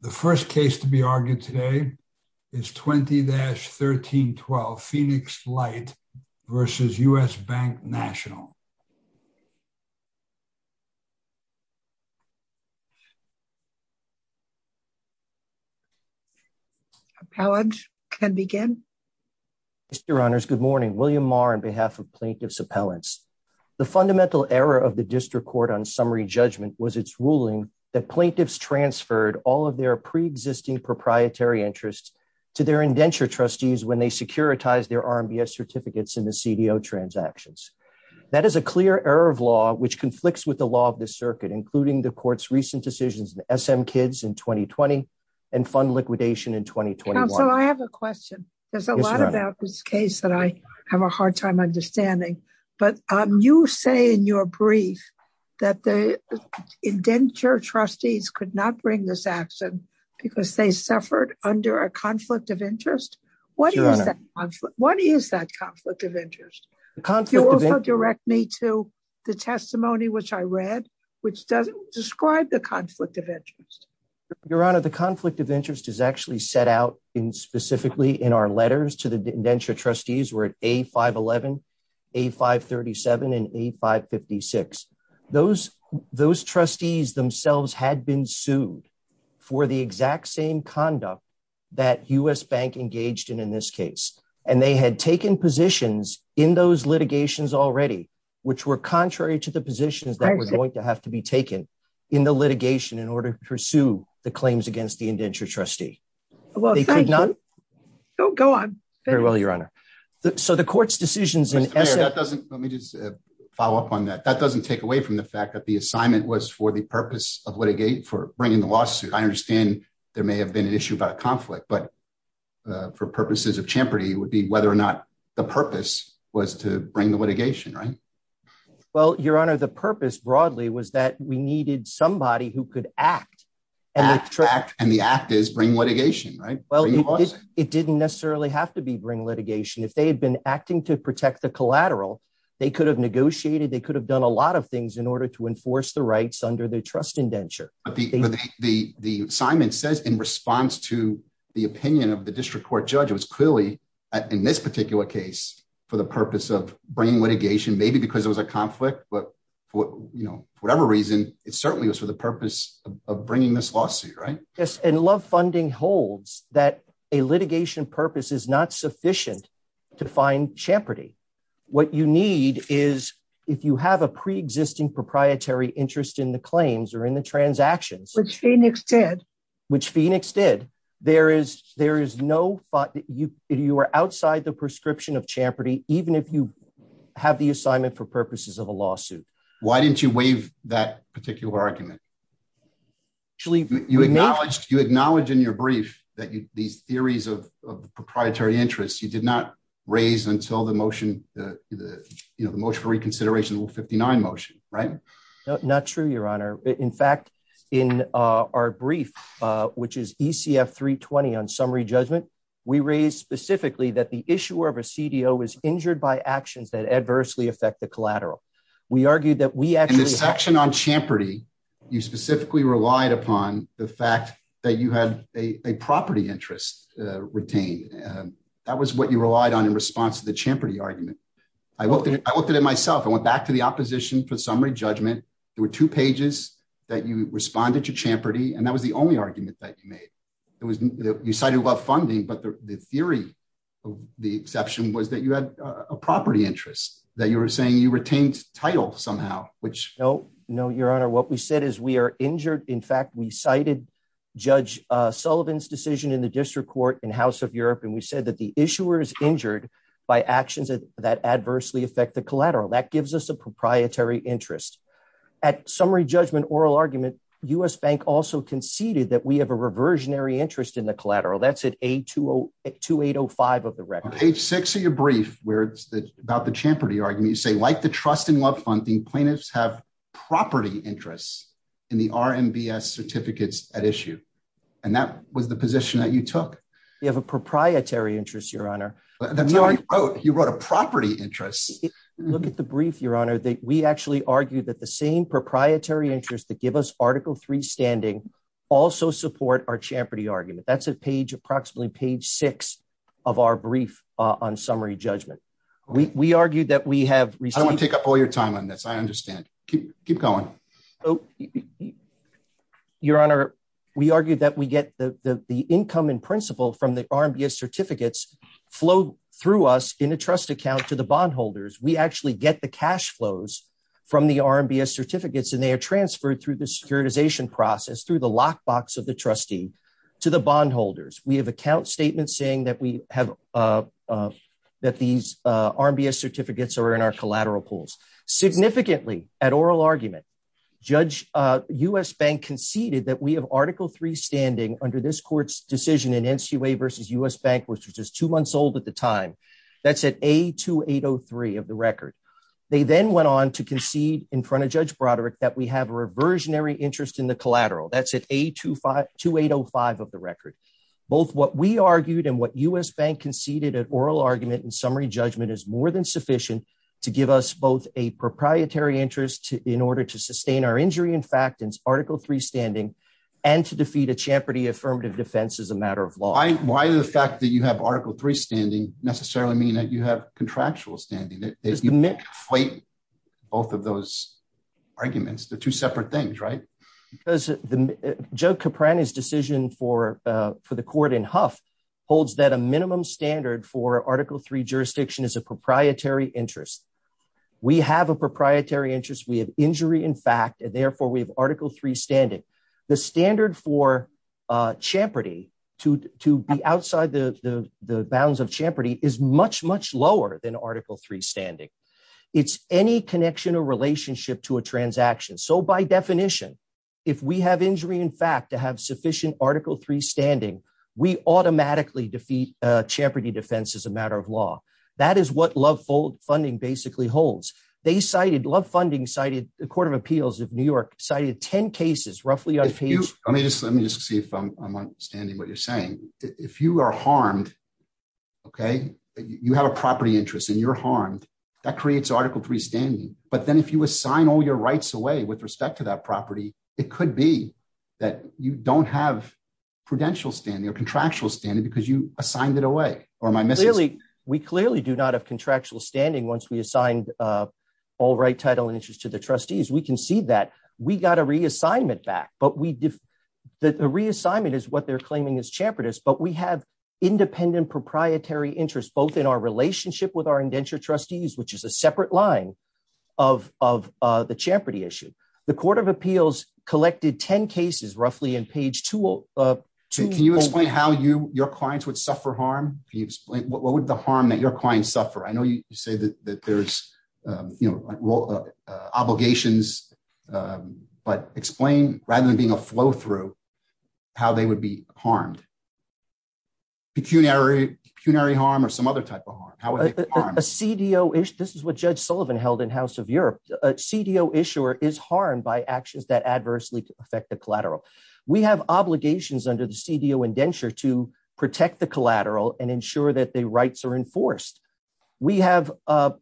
The first case to be argued today is 20-1312 Phoenix Light v. U.S. Bank National. Appellant can begin. Mr. Honors, good morning. William Marr on behalf of plaintiff's appellants. The fundamental error of the district court on summary judgment was its ruling that plaintiffs transferred all of their pre-existing proprietary interests to their indenture trustees when they securitized their RMBS certificates in the CDO transactions. That is a clear error of law which conflicts with the law of the circuit including the court's recent decisions in SM Kids in 2020 and fund liquidation in 2021. Counsel, I have a question. There's a lot about this case that I have a hard time understanding but you say in your brief that the indenture trustees could not bring this action because they suffered under a conflict of interest. What is that conflict of interest? You also direct me to the testimony which I read which doesn't describe the conflict of interest. Your honor, the conflict of interest is actually set out in specifically in our letters to the indenture trustees were at A511, A537, and A556. Those trustees themselves had been sued for the exact same conduct that U.S. Bank engaged in in this case and they had taken positions in those litigations already which were contrary to the positions that were going to have to be taken in the litigation in order to pursue the claims against the indenture trustee. Well, thank you. Go on. Very well, your honor. So the court's decisions in SM. Let me just follow up on that. That doesn't take away from the fact that the assignment was for the purpose of litigation for bringing the lawsuit. I understand there may have been an issue about a conflict but for purposes of champerty would be whether or not the purpose was to bring the litigation, right? Well, your honor, the purpose broadly was that we needed somebody who could act and the act is bring litigation, right? Well, it didn't necessarily have to be bring litigation. If they had been acting to protect the collateral, they could have negotiated, they could have done a lot of things in order to enforce the rights under the trust indenture. But the assignment says in response to the opinion of the district court judge, it was clearly in this particular case for the purpose of bringing litigation maybe because it was a conflict but for whatever reason, it certainly was for the purpose of bringing this lawsuit, right? Yes. And love funding holds that a litigation purpose is not sufficient to find champerty. What you need is if you have a pre-existing proprietary interest in the claims or in the transactions. Which Phoenix did. Which Phoenix did. You are outside the prescription of champerty even if you have the assignment for purposes of a lawsuit. Why didn't you waive that particular argument? Actually, you acknowledged in your brief that these theories of proprietary interest, you did not raise until the motion for reconsideration, the 59 motion, right? Not true, your honor. In fact, in our brief, which is ECF 320 on summary judgment, we raised specifically that the issuer of a CDO was injured by actions that adversely affect the collateral. We argued that we actually- In the section on champerty, you specifically relied upon the fact that you had a property interest retained. That was what you relied on in response to the champerty argument. I looked at it myself. I went back to the opposition for summary judgment. There were two pages that you responded to champerty and that was the only argument that you made. You cited about funding, but the theory of the exception was that you had a property interest, that you were saying you retained title somehow, which- No, no, your honor. What we said is we are injured. In fact, we cited Judge Sullivan's decision in the district court in House of Europe. We said that the issuer is injured by actions that adversely affect the collateral. That gives us a proprietary interest. At summary judgment oral argument, US Bank also conceded that we have a reversionary interest in the collateral. That's at A2805 of the record. On page six of your brief, where it's about the champerty argument, you say, like the trust and love funding, plaintiffs have property interests in the RMBS certificates at issue. That was the position that you took. You have a proprietary interest, your honor. That's not what you wrote. You wrote a property interest. Look at the brief, your honor, that we actually argued that the same proprietary interest that give us Article III standing also support our champerty argument. That's at approximately page six of our brief on summary judgment. We argued that we have received- I don't want to take up all your time on this. I understand. Keep going. Your honor, we argued that we get the income in principle from the RMBS certificates flow through us in a trust account to the bondholders. We actually get the cash flows from the RMBS certificates and they are transferred through the securitization process, through the lockbox of the trustee to the bondholders. We have account statements saying that these RMBS certificates are in our collateral pools. Significantly at oral argument, US Bank conceded that we have Article III standing under this at the time. That's at A2803 of the record. They then went on to concede in front of Judge Broderick that we have a reversionary interest in the collateral. That's at A2805 of the record. Both what we argued and what US Bank conceded at oral argument and summary judgment is more than sufficient to give us both a proprietary interest in order to sustain our injury in fact and Article III standing and to defeat a champerty affirmative defense as a matter of law. Why the fact that you have Article III standing necessarily mean that you have contractual standing? You can't fight both of those arguments. They're two separate things, right? Joe Caprani's decision for the court in Huff holds that a minimum standard for Article III jurisdiction is a proprietary interest. We have a proprietary interest. We have injury in fact and therefore we have Article III standing. The standard for to be outside the bounds of champerty is much, much lower than Article III standing. It's any connection or relationship to a transaction. By definition, if we have injury in fact to have sufficient Article III standing, we automatically defeat champerty defense as a matter of law. That is what Love Funding basically holds. Love Funding cited the standing what you're saying. If you are harmed, okay, you have a property interest and you're harmed, that creates Article III standing. But then if you assign all your rights away with respect to that property, it could be that you don't have prudential standing or contractual standing because you assigned it away or my missus. We clearly do not have contractual standing once we assigned all right title and interest to the trustees. We can see that. We got a reassignment back. The reassignment is what they're claiming is champerty, but we have independent proprietary interest both in our relationship with our indenture trustees, which is a separate line of the champerty issue. The Court of Appeals collected 10 cases roughly in page two. Can you explain how your clients would suffer harm? What would the harm that I know you say that there's obligations, but explain rather than being a flow through, how they would be harmed? Pecuniary harm or some other type of harm? A CDO issue, this is what Judge Sullivan held in House of Europe. A CDO issuer is harmed by actions that adversely affect the collateral. We have obligations under the CDO indenture to protect the collateral and ensure that the rights are enforced. We have an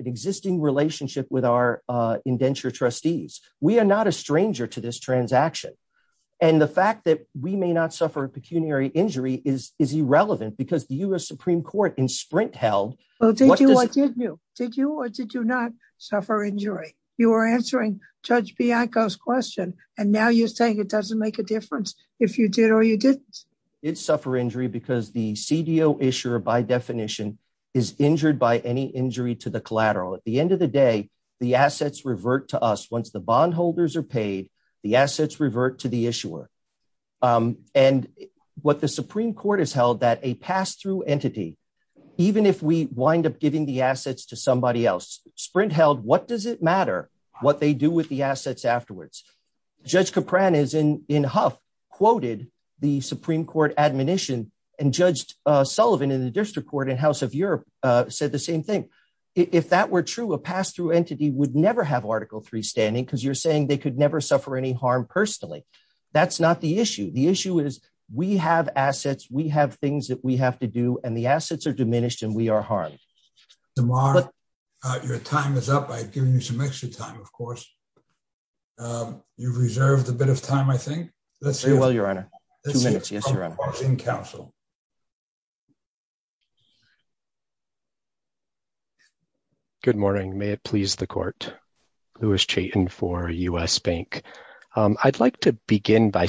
existing relationship with our indenture trustees. We are not a stranger to this transaction. The fact that we may not suffer a pecuniary injury is irrelevant because the US Supreme Court in Sprint held- Well, did you or did you not suffer injury? You were answering Judge Bianco's question, and now you're saying it doesn't make a difference if you did or you didn't. It's suffer injury because the CDO issuer by definition is injured by any injury to the collateral. At the end of the day, the assets revert to us. Once the bondholders are paid, the assets revert to the issuer. What the Supreme Court has held that a pass-through entity, even if we wind up giving the assets to somebody else, Sprint held, what does it matter what they do with the assets afterwards? Judge Capran in Huff quoted the Supreme Court admonition and Judge Sullivan in the District Court and House of Europe said the same thing. If that were true, a pass-through entity would never have Article III standing because you're saying they could never suffer any harm personally. That's not the issue. The issue is we have assets, we have things that we have to do, and the assets are diminished and we are harmed. Tamar, your time is up. I've given you some extra time, of course. You've reserved a bit of time, I think. Let's see. Very well, Your Honor. Two minutes. Yes, Your Honor. In counsel. Good morning. May it please the court. Louis Chaitin for US Bank. I'd like to begin by on the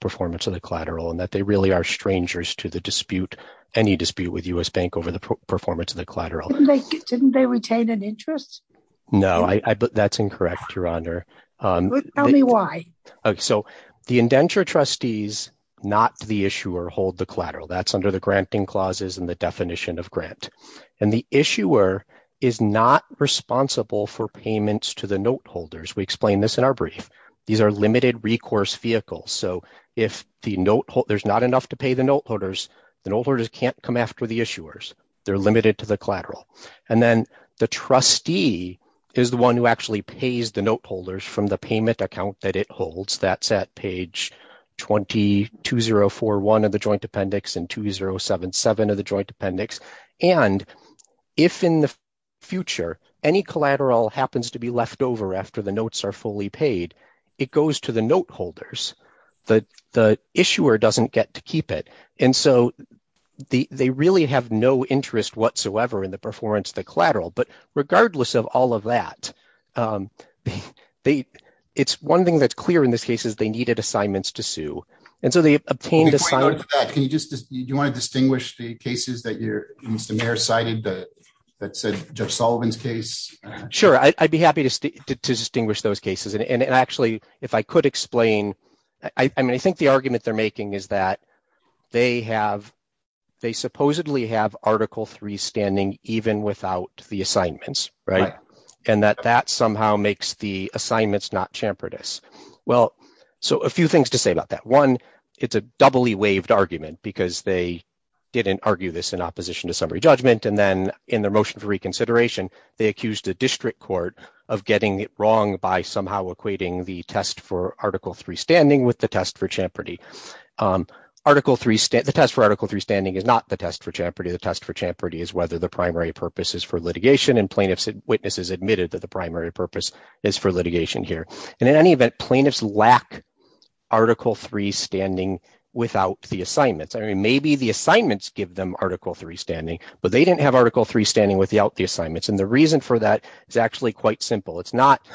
performance of the collateral and that they really are strangers to any dispute with US Bank over the performance of the collateral. Didn't they retain an interest? No, that's incorrect, Your Honor. Tell me why. The indenture trustees, not the issuer, hold the collateral. That's under the granting clauses and the definition of grant. The issuer is not responsible for payments to the note holders. We explain this in our brief. These are limited recourse vehicles. So if there's not enough to pay the note holders, the note holders can't come after the issuers. They're limited to the collateral. And then the trustee is the one who actually pays the note holders from the payment account that it holds. That's at page 20401 of the joint appendix and 2077 of the joint appendix. And if in the future any collateral happens to be left over after the notes are fully paid, it goes to the note holders. The issuer doesn't get to keep it. And so they really have no interest whatsoever in the performance of the collateral. But regardless of all of that, it's one thing that's clear in this case is they needed assignments to sue. And so they obtained a sign. Can you just do you want to distinguish the cases that you're Mr. Mayor cited that said Judge Sullivan's case? Sure, I'd be happy to distinguish those cases. And actually, if I could explain, I mean, I think the argument they're making is that they have, they supposedly have article three standing even without the assignments, right? And that that somehow makes the assignments not chamfered. Well, so a few things to say about that. One, it's a doubly waived argument because they didn't argue this in opposition to summary judgment. And then in their motion for reconsideration, they accused the district court of getting it wrong by somehow equating the test for article three standing with the test for champerty. Article three, the test for article three standing is not the test for champerty. The test for champerty is whether the primary purpose is for litigation and plaintiffs witnesses admitted that the primary purpose is for litigation here. And in any event, plaintiffs lack article three standing without the assignments. I mean, maybe the assignments give them article three standing, but they didn't have article three standing without the assignments. And the reason for that is actually quite simple. It's not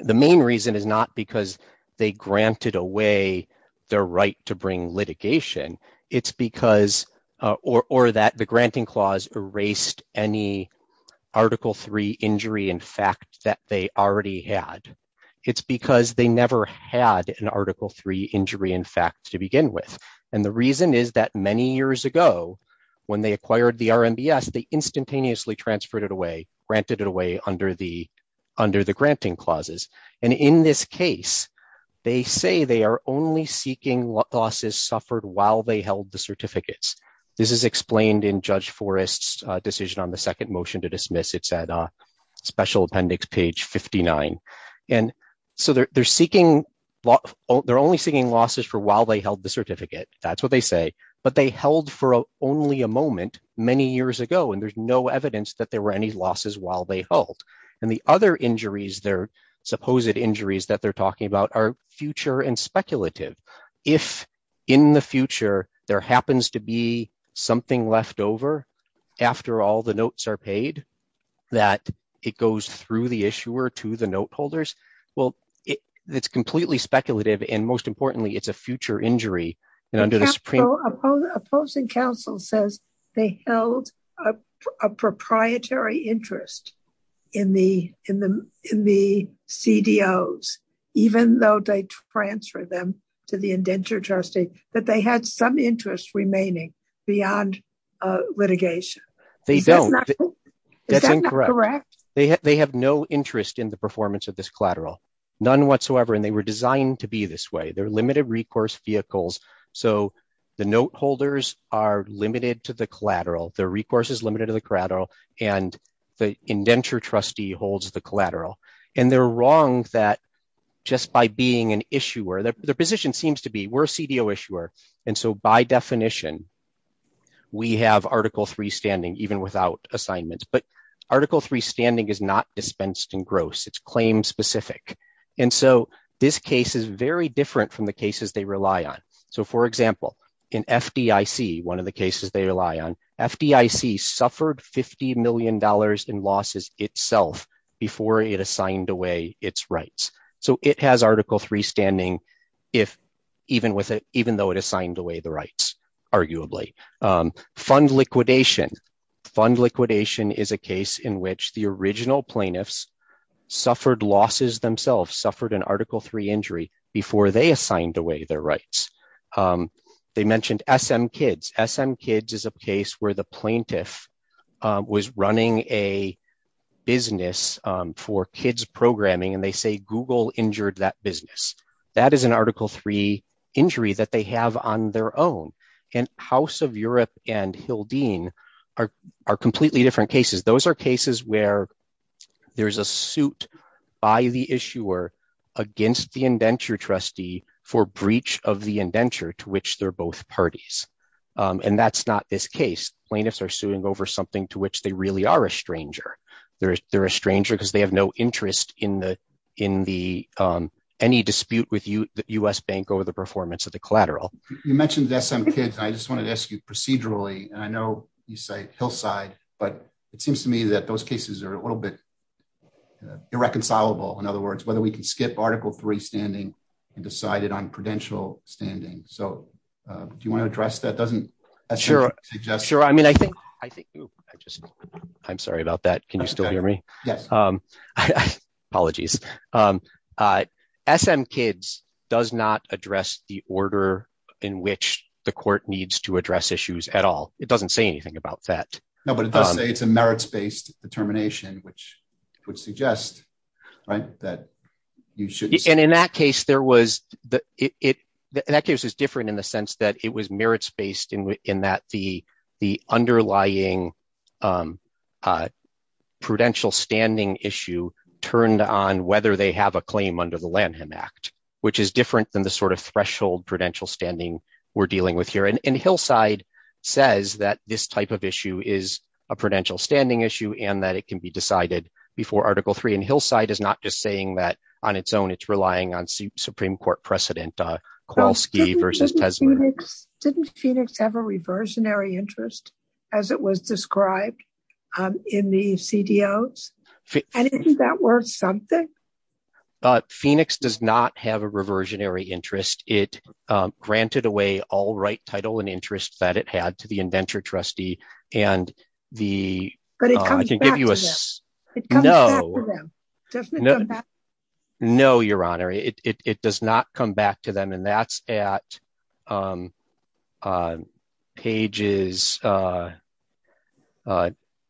the main reason is not because they granted away their right to bring litigation. It's because or that the never had an article three injury in fact, to begin with. And the reason is that many years ago, when they acquired the RMBS, they instantaneously transferred it away, granted it away under the granting clauses. And in this case, they say they are only seeking losses suffered while they held the certificates. This is explained in judge Forrest's decision on the second motion to dismiss. It's at a special appendix page 59. And so they're only seeking losses for while they held the certificate. That's what they say, but they held for only a moment many years ago. And there's no evidence that there were any losses while they held. And the other injuries, their supposed injuries that they're talking about are future and speculative. If in the future, there happens to be something left over, after all the notes are paid, that it goes through the issuer to the note holders. Well, it's completely speculative. And most importantly, it's a future injury. And under the supreme opposing counsel says they held a proprietary interest in the CDOs, even though they transfer them to the indenture trustee, that they had some interest remaining beyond litigation. They don't. That's incorrect. They have no interest in the performance of this collateral, none whatsoever. And they were designed to be this way. They're limited recourse vehicles. So the note holders are limited to the collateral, their recourse is limited to the collateral, and the indenture trustee holds the collateral. And they're wrong that just by being an issuer, their position seems to be we're a CDO issuer. And so by definition, we have article three standing even without assignments, but article three standing is not dispensed in gross, it's claim specific. And so this case is very different from the cases they rely on. So for example, in FDIC, one of the cases they rely on, FDIC suffered $50 million in losses itself before it assigned away its rights. So it has article three standing, even though it assigned away the rights, arguably. Fund liquidation. Fund liquidation is a case in which the original plaintiffs suffered losses themselves, suffered an article three injury before they assigned away their rights. They mentioned SM Kids. SM Kids is a case where the plaintiff was running a business for kids programming, and they say Google injured that business. That is an article three injury that they have on their own. And House of Europe and Hildeen are completely different cases. Those are cases where there's a suit by the issuer against the indenture trustee for breach of the indenture to which they're both parties. And that's not this case. Plaintiffs are suing over something to which they really are a stranger. They're a stranger because they have no interest in any dispute with the US Bank over the performance of the collateral. You mentioned SM Kids. I just wanted to ask you procedurally, and I know you say hillside, but it seems to me that those cases are a little bit irreconcilable. In other words, whether we can standing. Do you want to address that? I'm sorry about that. Can you still hear me? Apologies. SM Kids does not address the order in which the court needs to address issues at all. It doesn't say anything about that. No, but it does say it's a merits-based determination, which would suggest that you should. And in that case, it was different in the sense that it was merits-based in that the underlying prudential standing issue turned on whether they have a claim under the Lanham Act, which is different than the threshold prudential standing we're dealing with here. And hillside says that this type of issue is a prudential standing issue and that it can be decided before article three. And hillside is not just saying that on its own, it's relying on Supreme Court precedent. Didn't Phoenix have a reversionary interest as it was described in the CDOs? And isn't that worth something? Phoenix does not have a reversionary interest. It granted away all right title and interest that it had to the indenture trustee. But it comes back to them, doesn't it come back? No, your honor. It does not come back to them. And that's at pages.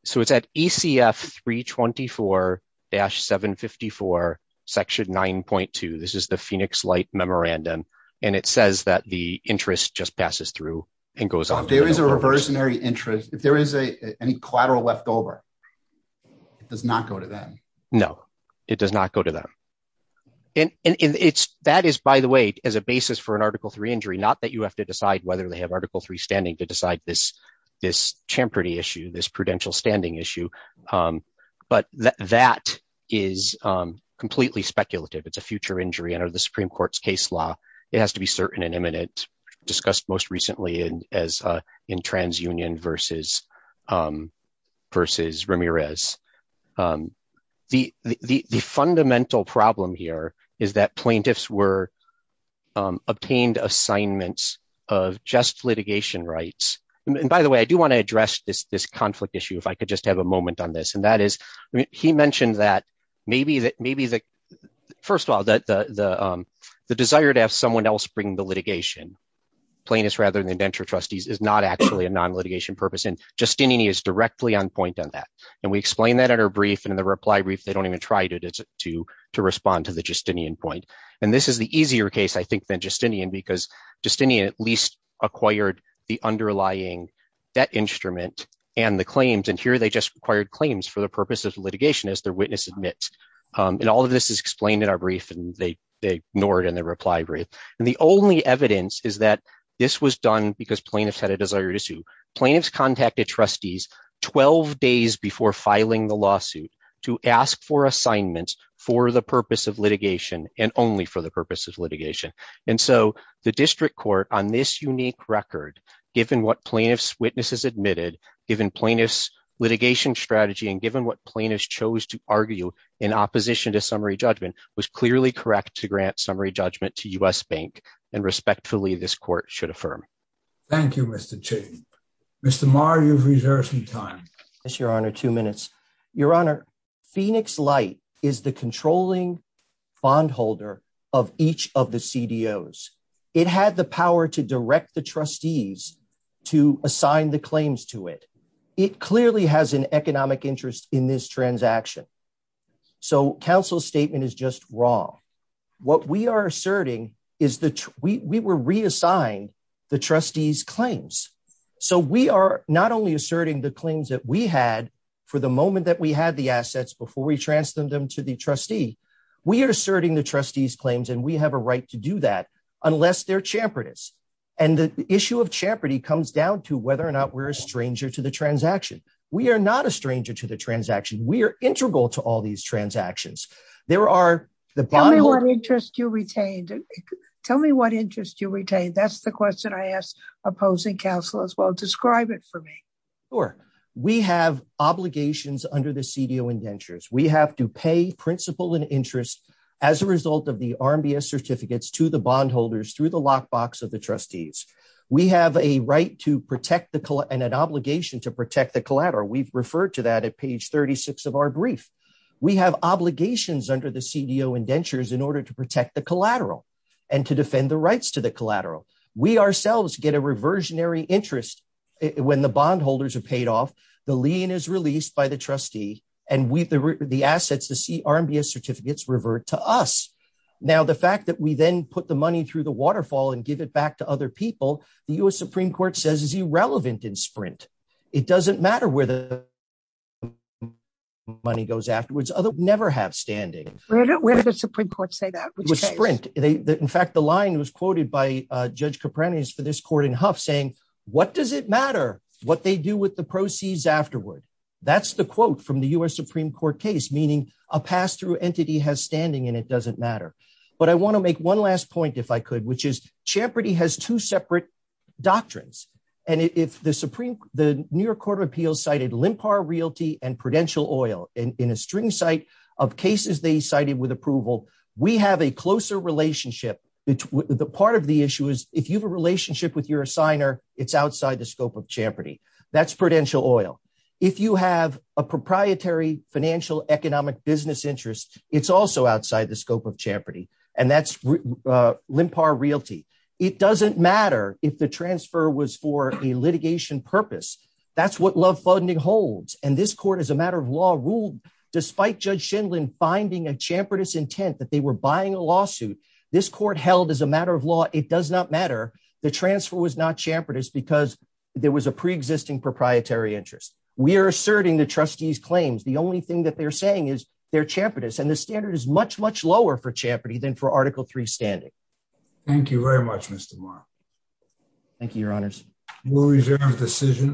So it's at ECF 324-754, section 9.2. This is the Phoenix light memorandum. And it says that the interest just passes through and goes on. There is a reversionary interest. If there is a collateral left over, it does not go to them. No, it does not go to them. And that is, by the way, as a basis for an article three injury, not that you have to decide whether they have article three standing to decide this champerty issue, this prudential standing issue. But that is completely speculative. It's a future injury under the Supreme Court's case law. It has to be certain and imminent, discussed most recently in TransUnion versus Ramirez. The fundamental problem here is that plaintiffs were obtained assignments of just litigation rights. And by the way, I do want to address this conflict issue, if I could just have a moment on this. And that is, he plaintiffs rather than indenture trustees is not actually a non-litigation purpose. And Justinian is directly on point on that. And we explained that in our brief. And in the reply brief, they don't even try to respond to the Justinian point. And this is the easier case, I think, than Justinian, because Justinian at least acquired the underlying debt instrument and the claims. And here they just acquired claims for the purpose of litigation, as their witness admits. And all of this is explained in our brief. And they ignore it in the reply brief. And the only evidence is that this was done because plaintiffs had a desired issue. Plaintiffs contacted trustees 12 days before filing the lawsuit to ask for assignments for the purpose of litigation and only for the purpose of litigation. And so the district court on this unique record, given what plaintiffs' witnesses admitted, given plaintiffs' litigation strategy, and given what plaintiffs chose to argue in opposition to summary judgment, was clearly correct to grant summary judgment to U.S. Bank. And respectfully, this court should affirm. Thank you, Mr. Chief. Mr. Maher, you've reserved some time. Yes, Your Honor. Two minutes. Your Honor, Phoenix Light is the controlling bondholder of each of the CDOs. It had the power to direct the trustees to assign the claims to it. It clearly has an economic interest in this transaction. So counsel's statement is just wrong. What we are asserting is that we were reassigned the trustees' claims. So we are not only asserting the claims that we had for the moment that we had the assets before we transferred them to the trustee, we are asserting the trustees' claims. And we have a right to do that unless they're champertists. And the issue of champerty comes down to whether or not we're a stranger to the transaction. We are not a stranger to the transaction. We are integral to all these transactions. Tell me what interest you retained. That's the question I asked opposing counsel as well. Describe it for me. Sure. We have obligations under the CDO indentures. We have to pay principal and interest as a result of the RMBS certificates to the bondholders through the lockbox of the trustees. We have a right and an obligation to protect the collateral. We've referred to that at page 36 of our brief. We have obligations under the CDO indentures in order to protect the collateral and to defend the rights to the collateral. We ourselves get a reversionary interest when the bondholders are paid off, the lien is released by the trustee, and the assets, the RMBS certificates revert to us. Now, the fact that we then put the money through the waterfall and give it back to other people, the US Supreme Court says is irrelevant in Sprint. It doesn't matter where the money goes afterwards. Others never have standing. Where did the Supreme Court say that? It was Sprint. In fact, the line was quoted by Judge Kopernikus for this court in Huff saying, what does it matter what they do with the proceeds afterward? That's the quote from the US Supreme Court case, meaning a pass-through entity has standing and it doesn't matter. But I want to make one last point if I could, which is separate doctrines. If the New York Court of Appeals cited LIMPAR Realty and Prudential Oil in a string site of cases they cited with approval, we have a closer relationship. The part of the issue is, if you have a relationship with your assigner, it's outside the scope of championing. That's Prudential Oil. If you have a proprietary financial economic business interest, it's also outside the scope of championing, and that's LIMPAR Realty. It doesn't matter if the transfer was for a litigation purpose. That's what love funding holds, and this court, as a matter of law, ruled despite Judge Shindlin finding a championing intent that they were buying a lawsuit. This court held as a matter of law, it does not matter. The transfer was not championing because there was a pre-existing proprietary interest. We are asserting the trustees' claims. The only thing that they're saying is they're championing, and the standard is much, much lower for championing than for Article III standing. Thank you very much, Mr. Maher. Thank you, Your Honors. We'll reserve the decision.